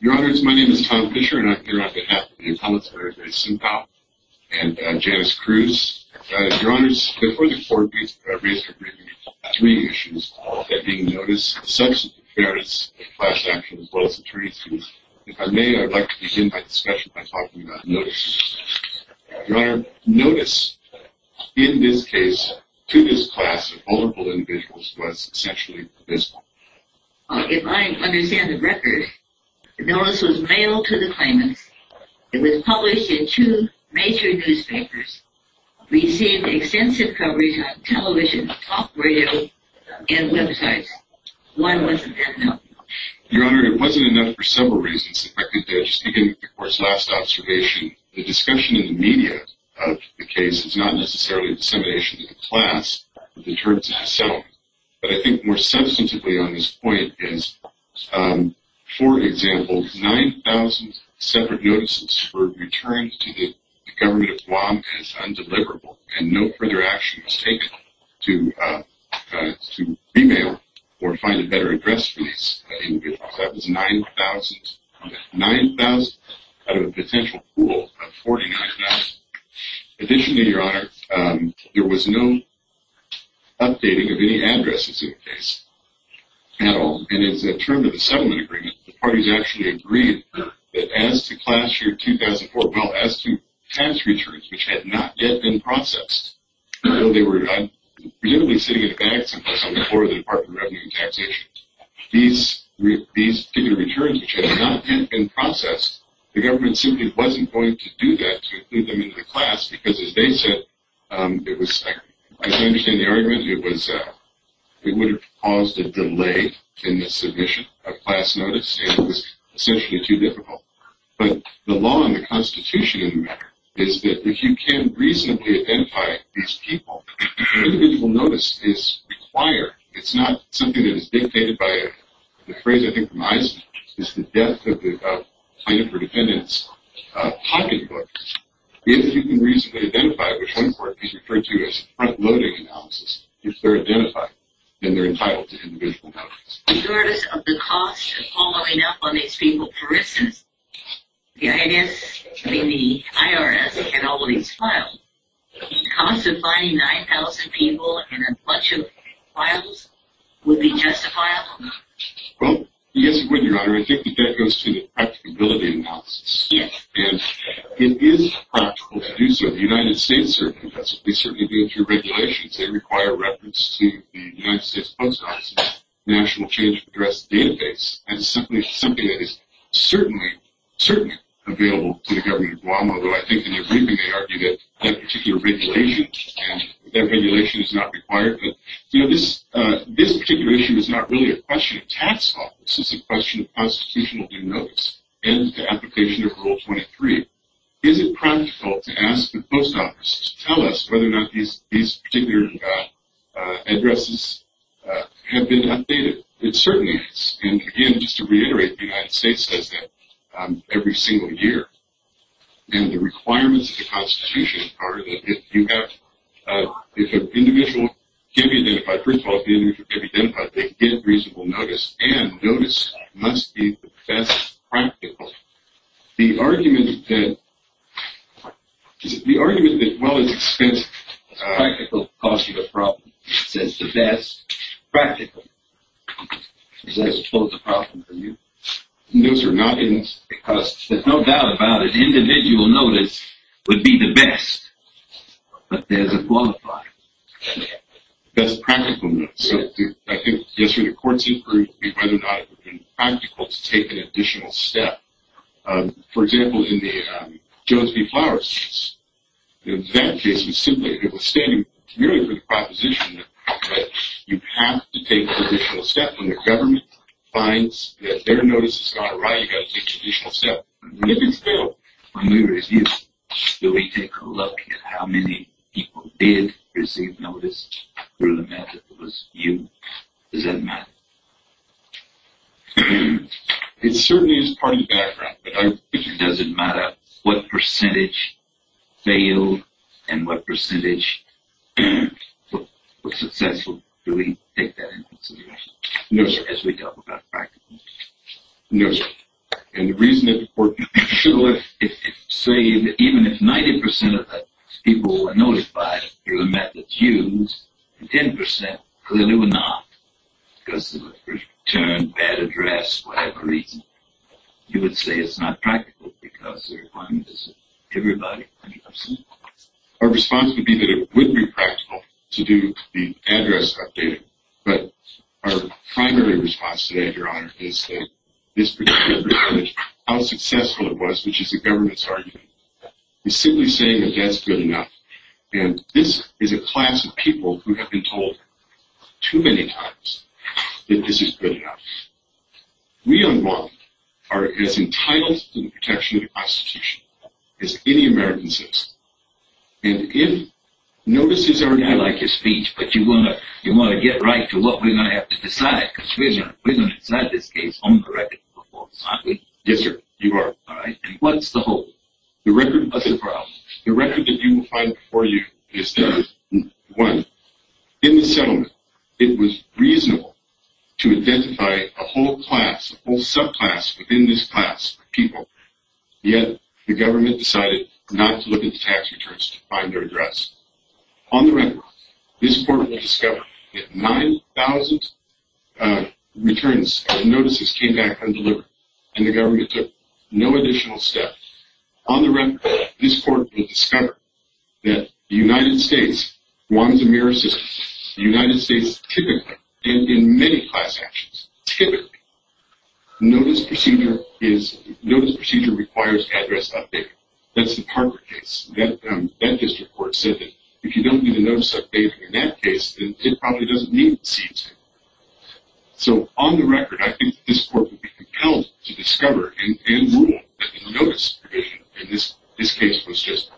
Your Honours, my name is Tom Fischer and I'm here on behalf of the imperial counselor at Simpao and Janice Cruz. Your Honours, before the court meets for a recent briefing, we have three issues at being noticed, the substance of the affairs, the class action, as well as the jury's views. If I may, I'd like to begin my discussion by talking about notices. Your Honour, notice in this case to this class of vulnerable individuals was essentially this one. If I understand the record, the notice was mailed to the claimants, it was published in two major newspapers, received extensive coverage on television, talk radio, and websites. Why wasn't that enough? Your Honour, it wasn't enough for several reasons. I could just begin with the court's last observation. The discussion in the media of the case is not necessarily a dissemination of the class, but I think more substantively on this point is, for example, 9,000 separate notices were returned to the Government of Guam as undeliverable and no further action was taken to be mailed or find a better address for these individuals. That was 9,000 out of a potential pool of 49,000. Additionally, Your Honour, there was no updating of any addresses in the case at all, and as a term of the settlement agreement, the parties actually agreed that as to class year 2004, well, as to tax returns, which had not yet been processed, although they were presumably sitting in a bag someplace on the floor of the Department of Revenue and Taxation, these given returns, which had not yet been processed, the government simply wasn't going to do that to include them into the class, because as they said, as I understand the argument, it would have caused a delay in the submission of class notice, and it was essentially too difficult. But the law and the Constitution in the matter is that if you can reasonably identify these people, an individual notice is required. It's not something that is dictated by the phrase, I think, from Eisenhower, it's the death of the plaintiff or defendant's pocketbook. If you can reasonably identify which one court is referred to as front-loading analysis, if they're identified, then they're entitled to individual notice. In terms of the cost of following up on these people, for instance, the IRS and all these files, the cost of finding 9,000 people in a bunch of files would be justifiable? Well, yes, it would, Your Honor. I think that that goes to the practicability analysis. And it is practical to do so. The United States certainly does it. They certainly do it through regulations. They require reference to the United States Post Office National Change of Address database, and it's something that is certainly available to the government of Guam, although I think in their briefing they argued that that particular regulation is not required. But, you know, this particular issue is not really a question of tax office. It's a question of constitutional due notice and the application of Rule 23. Is it practical to ask the post office to tell us whether or not these particular addresses have been updated? It certainly is. And, again, just to reiterate, the United States says that every single year. And the requirements of the Constitution are that if an individual can be identified, first of all, if the individual can be identified, they get reasonable notice, and notice must be the best practical. The argument that, well, it's expensive. Practical costs you a problem. It says the best practical. Is that supposed to be a problem for you? Those are not in the costs. There's no doubt about it. Individual notice would be the best, but there's a qualifier. That's practical notice. I think yesterday the court's inquiry would be whether or not it would be practical to take an additional step. For example, in the Jones v. Flowers case, that case was simply, it was standing merely for the proposition that you have to take an additional step when the government finds that their notice has gone awry, you've got to take an additional step. When we review, do we take a look at how many people did receive notice through the method that was used? Does that matter? It certainly is part of the background. Does it matter what percentage failed and what percentage were successful? Do we take that into consideration as we talk about practical? Yes, sir. And the reason that the court should have let it say that even if 90% of the people were notified through the methods used, and 10% clearly were not, because of a return, bad address, whatever reason, you would say it's not practical because everybody, I mean, absolutely. Our response would be that it would be practical to do the address updating, but our primary response today, Your Honor, is that this particular percentage, how successful it was, which is the government's argument, is simply saying that that's good enough. And this is a class of people who have been told too many times that this is good enough. We, on one, are as entitled to the protection of the Constitution as any American citizen. And if notices are not... I like your speech, but you want to get right to what we're going to have to decide, because we're going to decide this case on the record, aren't we? Yes, sir. You are. And what's the hope? The record of this trial, the record that you will find before you, is that, one, in the settlement, it was reasonable to identify a whole class, a whole subclass within this class of people, yet the government decided not to look into tax returns to find their address. On the record, this court will discover that 9,000 returns and notices came back undelivered, and the government took no additional steps. On the record, this court will discover that the United States wants a mirror system. The United States typically, and in many class actions typically, notice procedure requires address updating. That's the Parker case. That district court said that if you don't get a notice updating in that case, then it probably doesn't need to see it. So, on the record, I think this court would be compelled to discover, and rule, that the notice provision in this case was just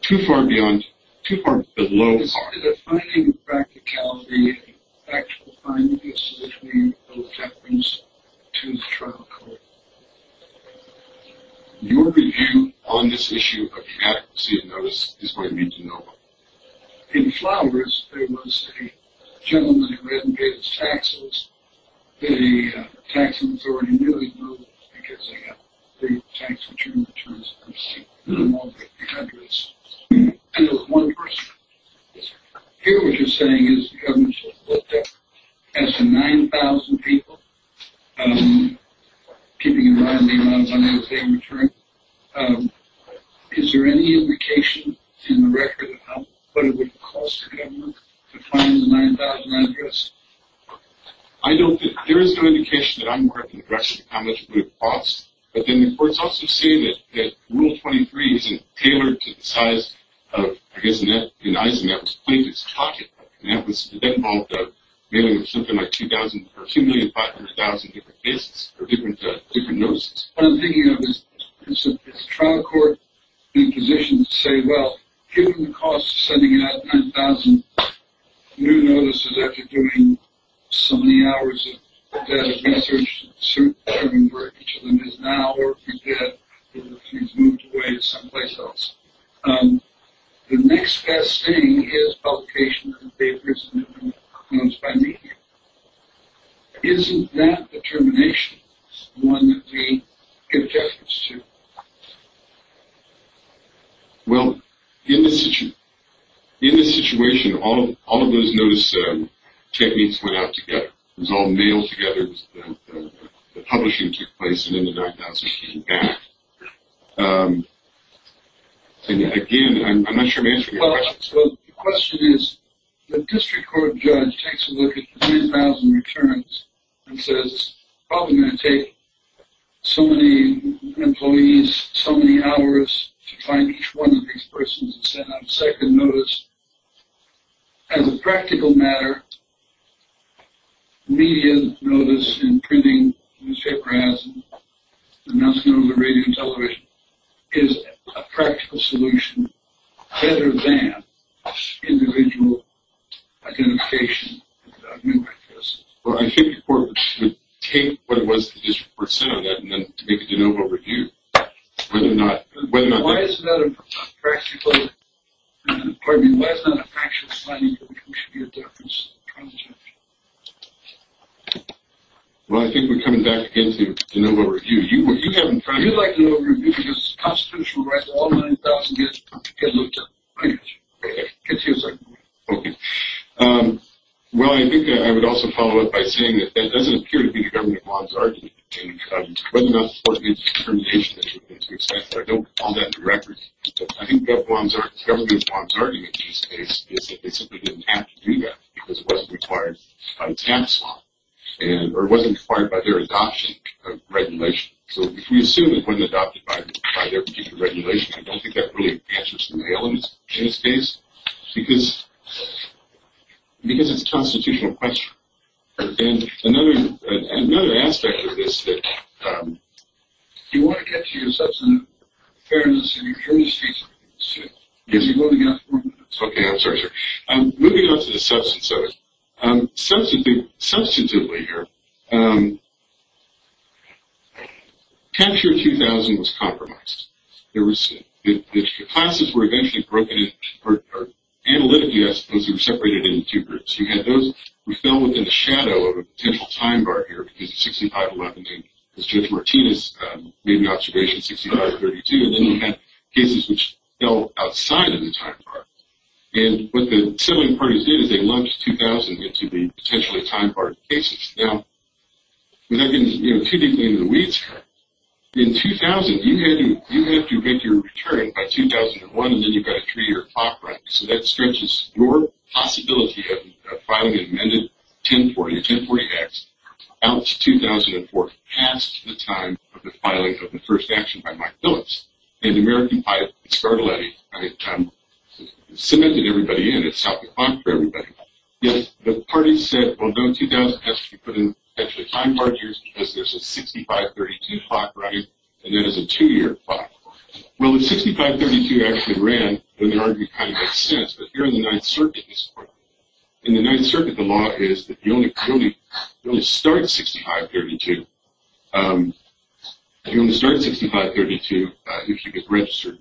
too far below par. Is a finding of practicality an actual finding? Yes, sir. Your review on this issue of the adequacy of notice is going to be de novo. In Flowers, there was a gentleman who hadn't paid his taxes. The tax authority nearly moved because they had three tax-returned returns and received more than $50,000. And it was one person. Yes, sir. Here, what you're saying is the government should have looked at, as for 9,000 people, keeping in mind the amount of money they were paying in return, is there any indication in the record of what it would cost the government to find the 9,000 address? I don't think. There is no indication that I'm quite in the direction of how much it would have cost. But then the court's also saying that rule 23 isn't tailored to the size of, I guess, in Eisenhower's plaintiff's pocket. And that involved mailing something like 2,000 or 2,500,000 different lists or different notices. What I'm thinking of is trial court in positions to say, well, given the cost of sending out 9,000 new notices after doing so many hours of data research and searching for each of them is now, or if you did, it's moved away to someplace else. The next best thing is publication of the papers and the notes by media. Isn't that the termination? It's the one that we give judgements to. Well, in this situation, all of those notice techniques went out together. It was all mailed together. The publishing took place and then the 9,000 came back. And again, I'm not sure I'm answering your question. Well, the question is the district court judge takes a look at the 9,000 returns and says it's probably going to take so many employees so many hours to find each one of these persons and send out a second notice. As a practical matter, media notice and printing, newspaper ads, the announcement over the radio and television is a practical solution better than individual identification. Well, I think the court would take what it was the district court said on that and then make a de novo review. Why is that a practical, pardon me, why is that a factual finding that we think should be a difference? Well, I think we're coming back again to de novo review. You have in front of you. You like de novo review because constitutional rights all 9,000 get looked at. I get you. Get to your second point. Okay. Well, I think I would also follow up by saying that that doesn't appear to be the government bonds argument. Whether or not it's the termination issue, I don't hold that to record. I think the government bonds argument is that they simply didn't have to do that because it wasn't required by the tax law or it wasn't required by their adoption of regulation. So, if we assume it wasn't adopted by their particular regulation, I don't think that really answers some of the elements in this case because it's a constitutional question. And another aspect of this is that you want to get to your substantive fairness and you're curious to see something. Yes, you're moving on. Okay. I'm sorry, sir. Moving on to the substance of it. Substantively here, Capture 2000 was compromised. The classes were eventually broken in, or analytically, I suppose, they were separated into two groups. You had those who fell within the shadow of a potential time bar here because of 6511 and Judge Martinez made the observation 6532, and then you had cases which fell outside of the time bar. And what the settling parties did is they lumped 2000 into the potentially time bar cases. Now, we're not getting too deeply into the weeds here. In 2000, you had to make your return by 2001, and then you've got to treat your clock right. So, that stretches your possibility of filing an amended 1040, a 1040X, out to 2004, past the time of the filing of the first action by Mike Billings. And the American pipe, Scarletti, cemented everybody in. It stopped the clock for everybody. Yes, the parties said, well, no, 2000 has to be put in potentially time bar years because there's a 6532 clock running, and that is a two-year clock. Well, the 6532 actually ran when the argument kind of makes sense, but here in the Ninth Circuit, the law is that if you only start 6532, you should get registered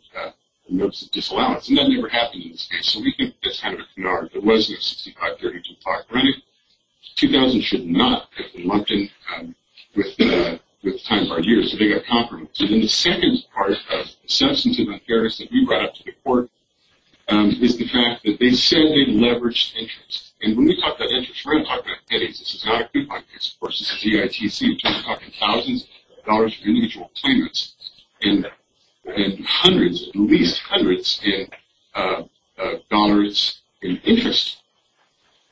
notice of disallowance, and that never happened in this case. So, we can just kind of ignore it. There was no 6532 clock running. 2000 should not have been lumped in with the time bar years. They got compromised. And then the second part of the substantive unfairness that we brought up to the court is the fact that they said they leveraged interest. And when we talk about interest, we're not talking about pennies. This is not a coupon case, of course. This is EITC talking thousands of dollars for individual payments and hundreds, at least hundreds, in dollars in interest.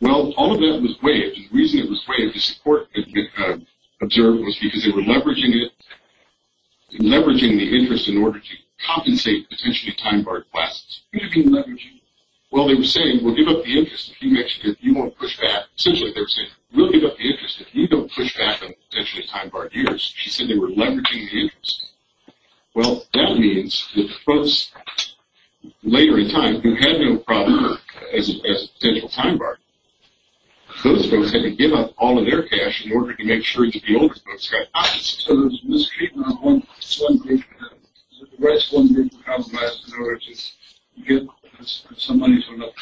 Well, all of that was waived. The reason it was waived, the support observed, was because they were leveraging it, leveraging the interest in order to compensate potentially time bar requests. What do you mean leveraging? Well, they were saying, well, give up the interest if you won't push back. Essentially, they were saying, we'll give up the interest if you don't push back on potentially time bar years. She said they were leveraging the interest. Well, that means that the folks later in time who had no problem as a potential time bar, those folks had to give up all of their cash in order to make sure that the older folks got access. So, there's miscreantment of one thing. The rights weren't being compromised in order to get some money turned up.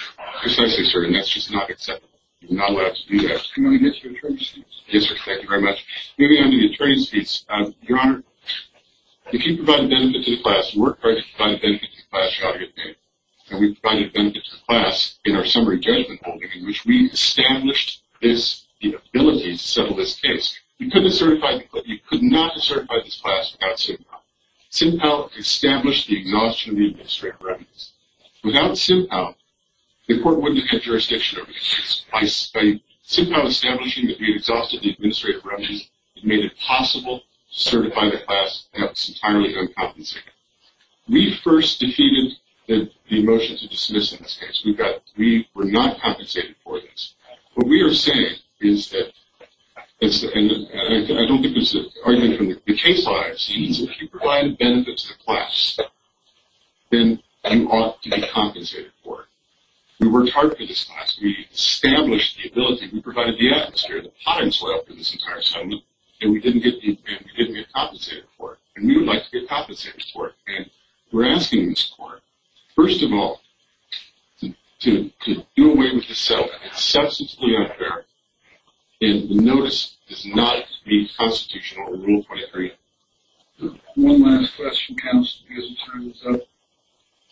Precisely, sir, and that's just not acceptable. You're not allowed to do that. Can I get your attorney's speech? Yes, sir. Thank you very much. Maybe I need an attorney's speech. Your Honor, if you provide a benefit to the class, and we're trying to provide a benefit to the class, you ought to get paid, and we provided a benefit to the class in our summary judgment holding, in which we established the ability to settle this case. You could not certify this class without CINPAL. CINPAL established the exhaustion of the administrative revenues. Without CINPAL, the court wouldn't have had jurisdiction over this case. By CINPAL establishing that we had exhausted the administrative revenues, it made it possible to certify the class, and that was entirely uncompensated. We first defeated the motion to dismiss in this case. We were not compensated for this. What we are saying is that, and I don't think this is an argument from the case lawyers, if you provide a benefit to the class, then you ought to be compensated for it. We worked hard for this class. We established the ability. We provided the atmosphere, the potting soil for this entire settlement, and we didn't get compensated for it, and we would like to get compensated for it. We're asking this court, first of all, to do away with the settlement. It's substantially unfair, and the notice does not meet constitutional Rule 23. One last question, counsel, because the time is up.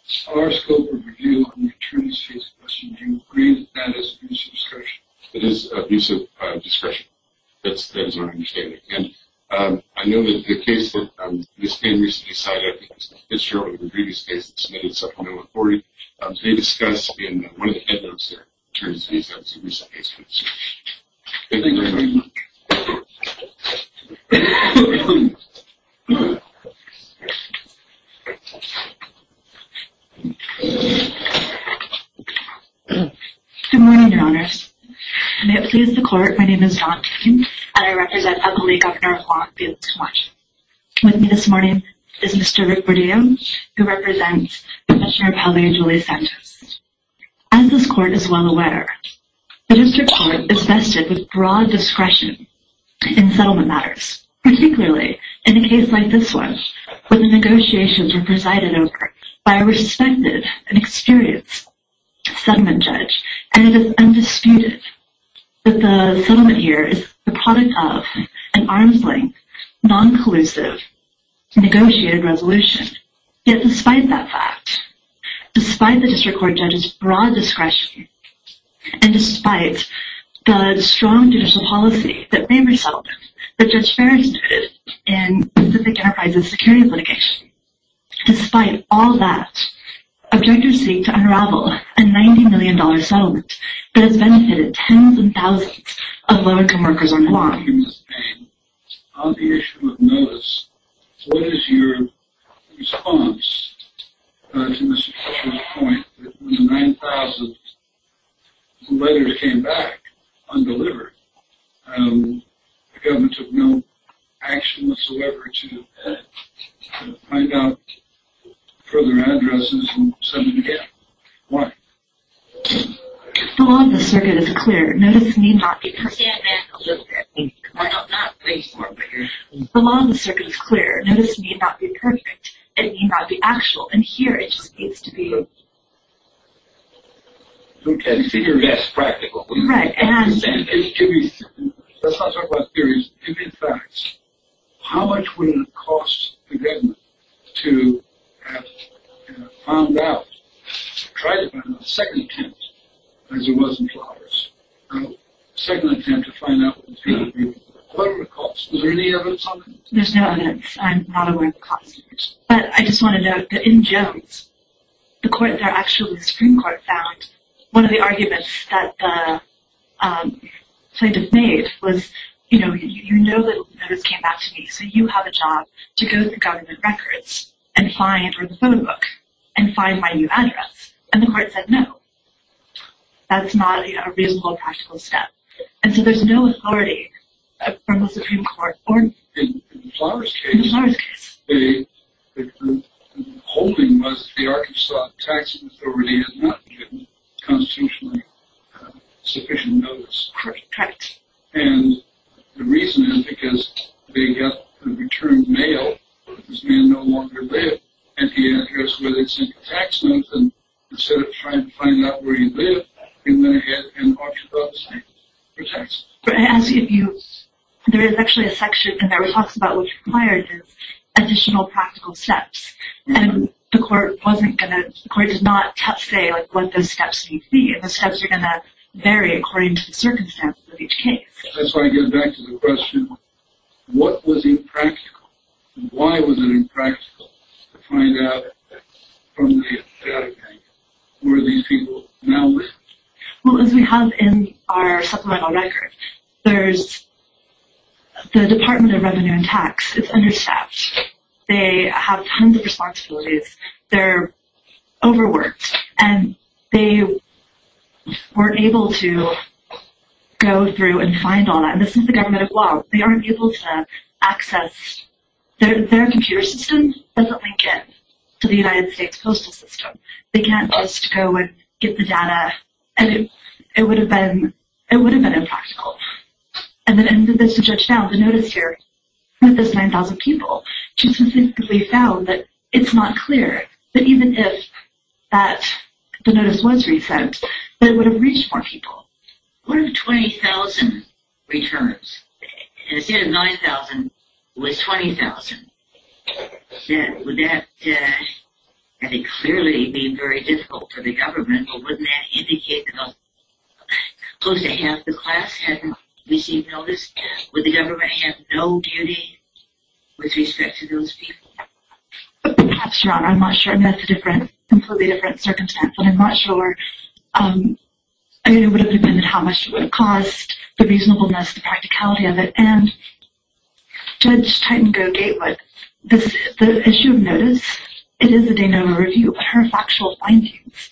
As far as scope of review on the attorneys' fees question, do you agree that that is abusive discretion? It is abusive discretion. That is our understanding. And I know that the case that Ms. Payne recently cited, I think it was Fitzgerald in the previous case that was submitted, 7.140, they discussed in one of the handouts there, attorneys' fees, that was a recent case. Thank you very much. Good morning, Your Honors. And may it please the Court, my name is Dawn Payne, and with me this morning is Mr. Rick Burdeo, who represents Professor of Housing and Jewelry Santos. As this court is well aware, the district court is vested with broad discretion in settlement matters, particularly in a case like this one, where the negotiations are presided over by a respected and experienced settlement judge, and it is undisputed that the settlement here is the product of an arm's length, non-collusive negotiated resolution. Yet despite that fact, despite the district court judge's broad discretion, and despite the strong judicial policy that may result, that Judge Ferris did in Pacific Enterprise's security litigation, despite all that, objectors seek to unravel a $90 million settlement that has benefited tens of thousands of low-income workers on the lot. Ms. Payne, on the issue of notice, what is your response to Mr. Fisher's point that when the 9,000 letters came back undelivered, the government took no action whatsoever to edit, to find out further addresses and send them again? Why? The law of the circuit is clear. Notice need not be perfect. Stand back a little bit. The law of the circuit is clear. Notice need not be perfect. It need not be actual. And here it just needs to be... It's practical. Let's not talk about theories. Give me facts. How much would it cost the government to have found out, try to find out a second attempt, as it was in Flowers, a second attempt to find out what was going on? What would it cost? Is there any evidence on that? There's no evidence. I'm not aware of the cost of it. But I just want to note that in Jones, the Supreme Court found one of the arguments that the plaintiff made was, you know that notice came back to me, so you have a job to go through government records and find, or the phone book, and find my new address. And the court said no. That's not a reasonable, practical step. And so there's no authority from the Supreme Court. In Flowers' case, the holding was the Arkansas Tax Authority had not given constitutionally sufficient notice. Correct. And the reason is because they got a return mail that this man no longer lived, and he had to go to the state tax office, and instead of trying to find out where he lived, he went ahead and auctioned off the site for taxes. There is actually a section in there where it talks about what's required is additional practical steps. And the court was not going to say what the steps need to be, and the steps are going to vary according to the circumstances of each case. That's why I get back to the question, what was impractical? Why was it impractical to find out from the bank where these people now live? Well, as we have in our supplemental record, the Department of Revenue and Tax is understaffed. They have tons of responsibilities. They're overworked. And they weren't able to go through and find all that. And this is the Government of Guam. They aren't able to access, their computer system doesn't link in to the United States postal system. They can't just go and get the data. And it would have been impractical. And the judge found the notice here with those 9,000 people, she specifically found that it's not clear that even if the notice was recent, that it would have reached more people. What if 20,000 returns, and instead of 9,000, it was 20,000? Would that clearly be very difficult for the government? Or wouldn't that indicate that close to half the class had received notice? Would the government have no duty with respect to those people? Perhaps not. I'm not sure. And that's a completely different circumstance. And I'm not sure. I mean, it would have depended on how much it would have cost, the reasonableness, the practicality of it. And Judge Titango-Gatewood, the issue of notice, it is a de novo review, but her factual findings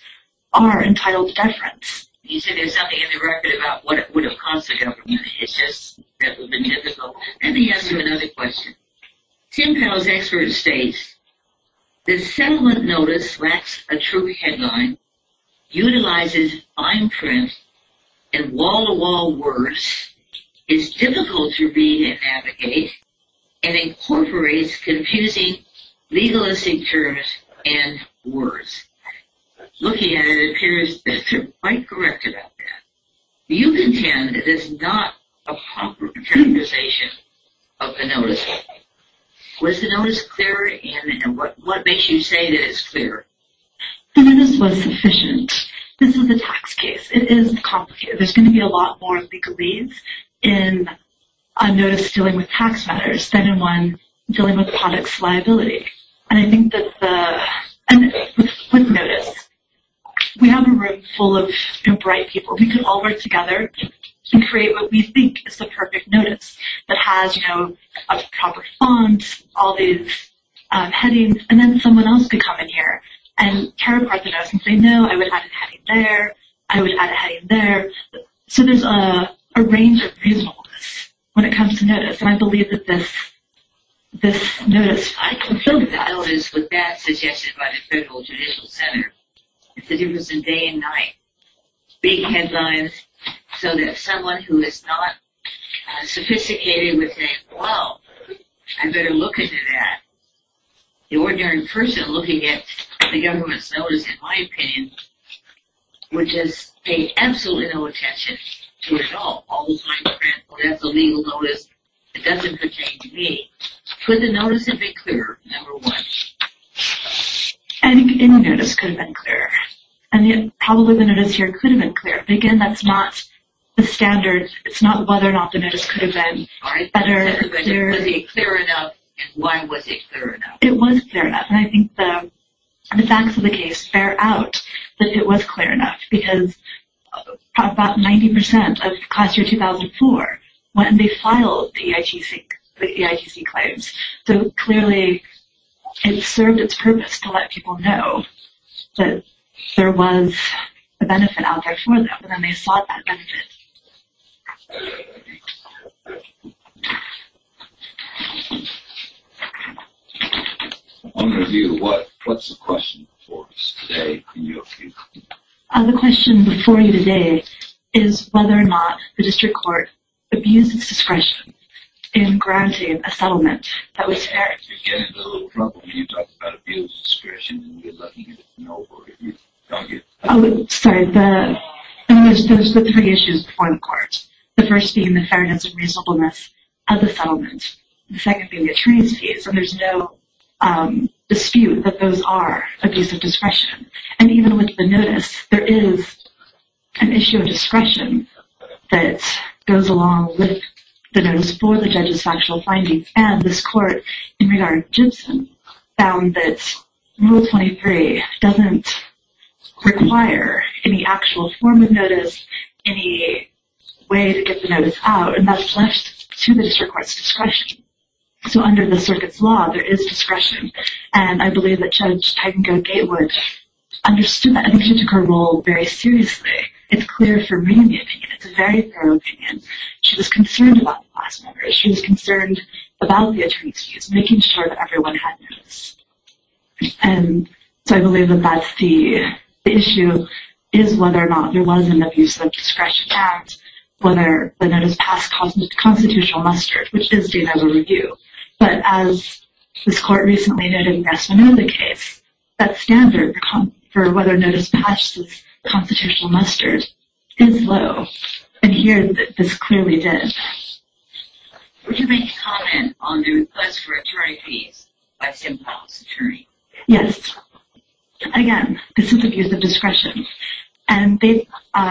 are entitled deference. You said there's something in the record about what it would have cost the government. It's just that would have been difficult. Let me ask you another question. Tim Powell's expert states, The settlement notice lacks a true headline, utilizes fine print, and wall-to-wall words, is difficult to read and navigate, and incorporates confusing legalistic terms and words. Looking at it, it appears that you're quite correct about that. You contend that it's not a proper characterization of the notice. Was the notice clear? And what makes you say that it's clear? The notice was sufficient. This is a tax case. It is complicated. There's going to be a lot more legalese in a notice dealing with tax matters than in one dealing with the product's liability. And I think that with notice, we have a room full of bright people. We can all work together and create what we think is the perfect notice that has, you know, a proper font, all these headings, and then someone else could come in here and tear apart the notice and say, No, I would add a heading there. I would add a heading there. So there's a range of reasonableness when it comes to notice, and I believe that this notice is fine. I don't think the notice was that suggested by the Federal Judicial Center. It's a difference in day and night. Big headlines so that someone who is not sophisticated would say, Well, I better look into that. The ordinary person looking at the government's notice, in my opinion, would just pay absolutely no attention to it at all, all the time. Well, that's a legal notice. It doesn't pertain to me. Could the notice have been clearer, number one? Any notice could have been clearer. And probably the notice here could have been clearer. But, again, that's not the standard. It's not whether or not the notice could have been better. Was it clear enough, and why was it clear enough? It was clear enough. And I think the facts of the case bear out that it was clear enough because about 90% of class year 2004 went and they filed the EITC claims. So, clearly, it served its purpose to let people know that there was a benefit out there for them. And then they sought that benefit. On review, what's the question before us today? The question before you today is whether or not the district court abused its discretion in granting a settlement that was fair. Sorry, there's the three issues before the court. The first being the fairness and reasonableness of the settlement. The second being the transfees. And there's no dispute that those are abuse of discretion. And even with the notice, there is an issue of discretion that goes along with the notice for the judge's factual findings. And this court, in regard to Gibson, found that Rule 23 doesn't require any actual form of notice, any way to get the notice out, and that's left to the district court's discretion. So, under the circuit's law, there is discretion. And I believe that Judge Tegenko-Gatewood understood that, and she took her role very seriously. It's clear for me, the opinion. It's a very thorough opinion. She was concerned about the class members. She was concerned about the attorneys' views, making sure that everyone had notice. And so I believe that that's the issue, is whether or not there was an abuse of discretion act, whether the notice passed constitutional muster, which is seen as a review. But as this court recently noted in the Rasmananda case, that standard for whether a notice passes constitutional muster is low. And here, this clearly did. Would you make a comment on the request for attorney fees by Simcoe's attorney? And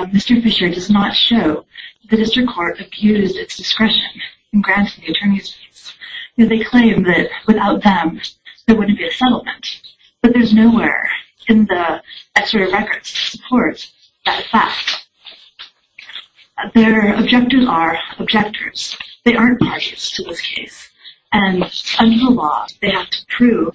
Mr. Fisher does not show that the district court abused its discretion in granting the attorneys' fees. They claim that without them, there wouldn't be a settlement. But there's nowhere in the extradited records to support that fact. Their objectors are objectors. They aren't parties to this case. And under the law, they have to prove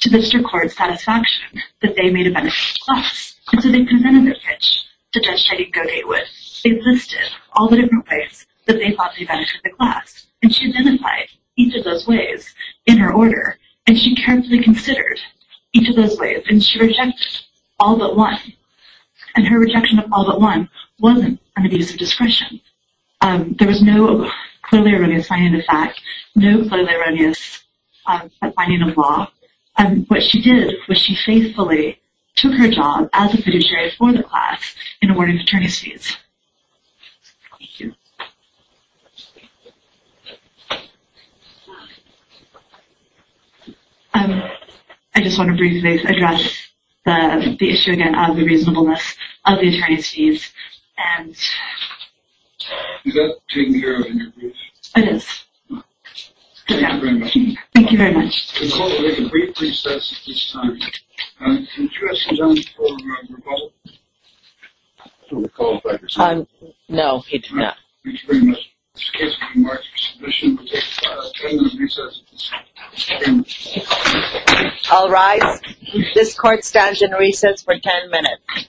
to district court's satisfaction that they made a beneficial class. And so they presented their pitch to Judge Jody Cogatewood. They listed all the different ways that they thought they benefited the class. And she identified each of those ways in her order. And she carefully considered each of those ways. And she rejected all but one. And her rejection of all but one wasn't an abuse of discretion. There was no clearly erroneous finding of fact, no clearly erroneous finding of law. What she did was she faithfully took her job as a fiduciary for the class in awarding attorneys' fees. Thank you. I just want to briefly address the issue again of the reasonableness of the attorneys' fees. And... Is that taken care of in your brief? It is. Thank you very much. Thank you very much. No, he did not. I'll rise. This court stands in recess for 10 minutes.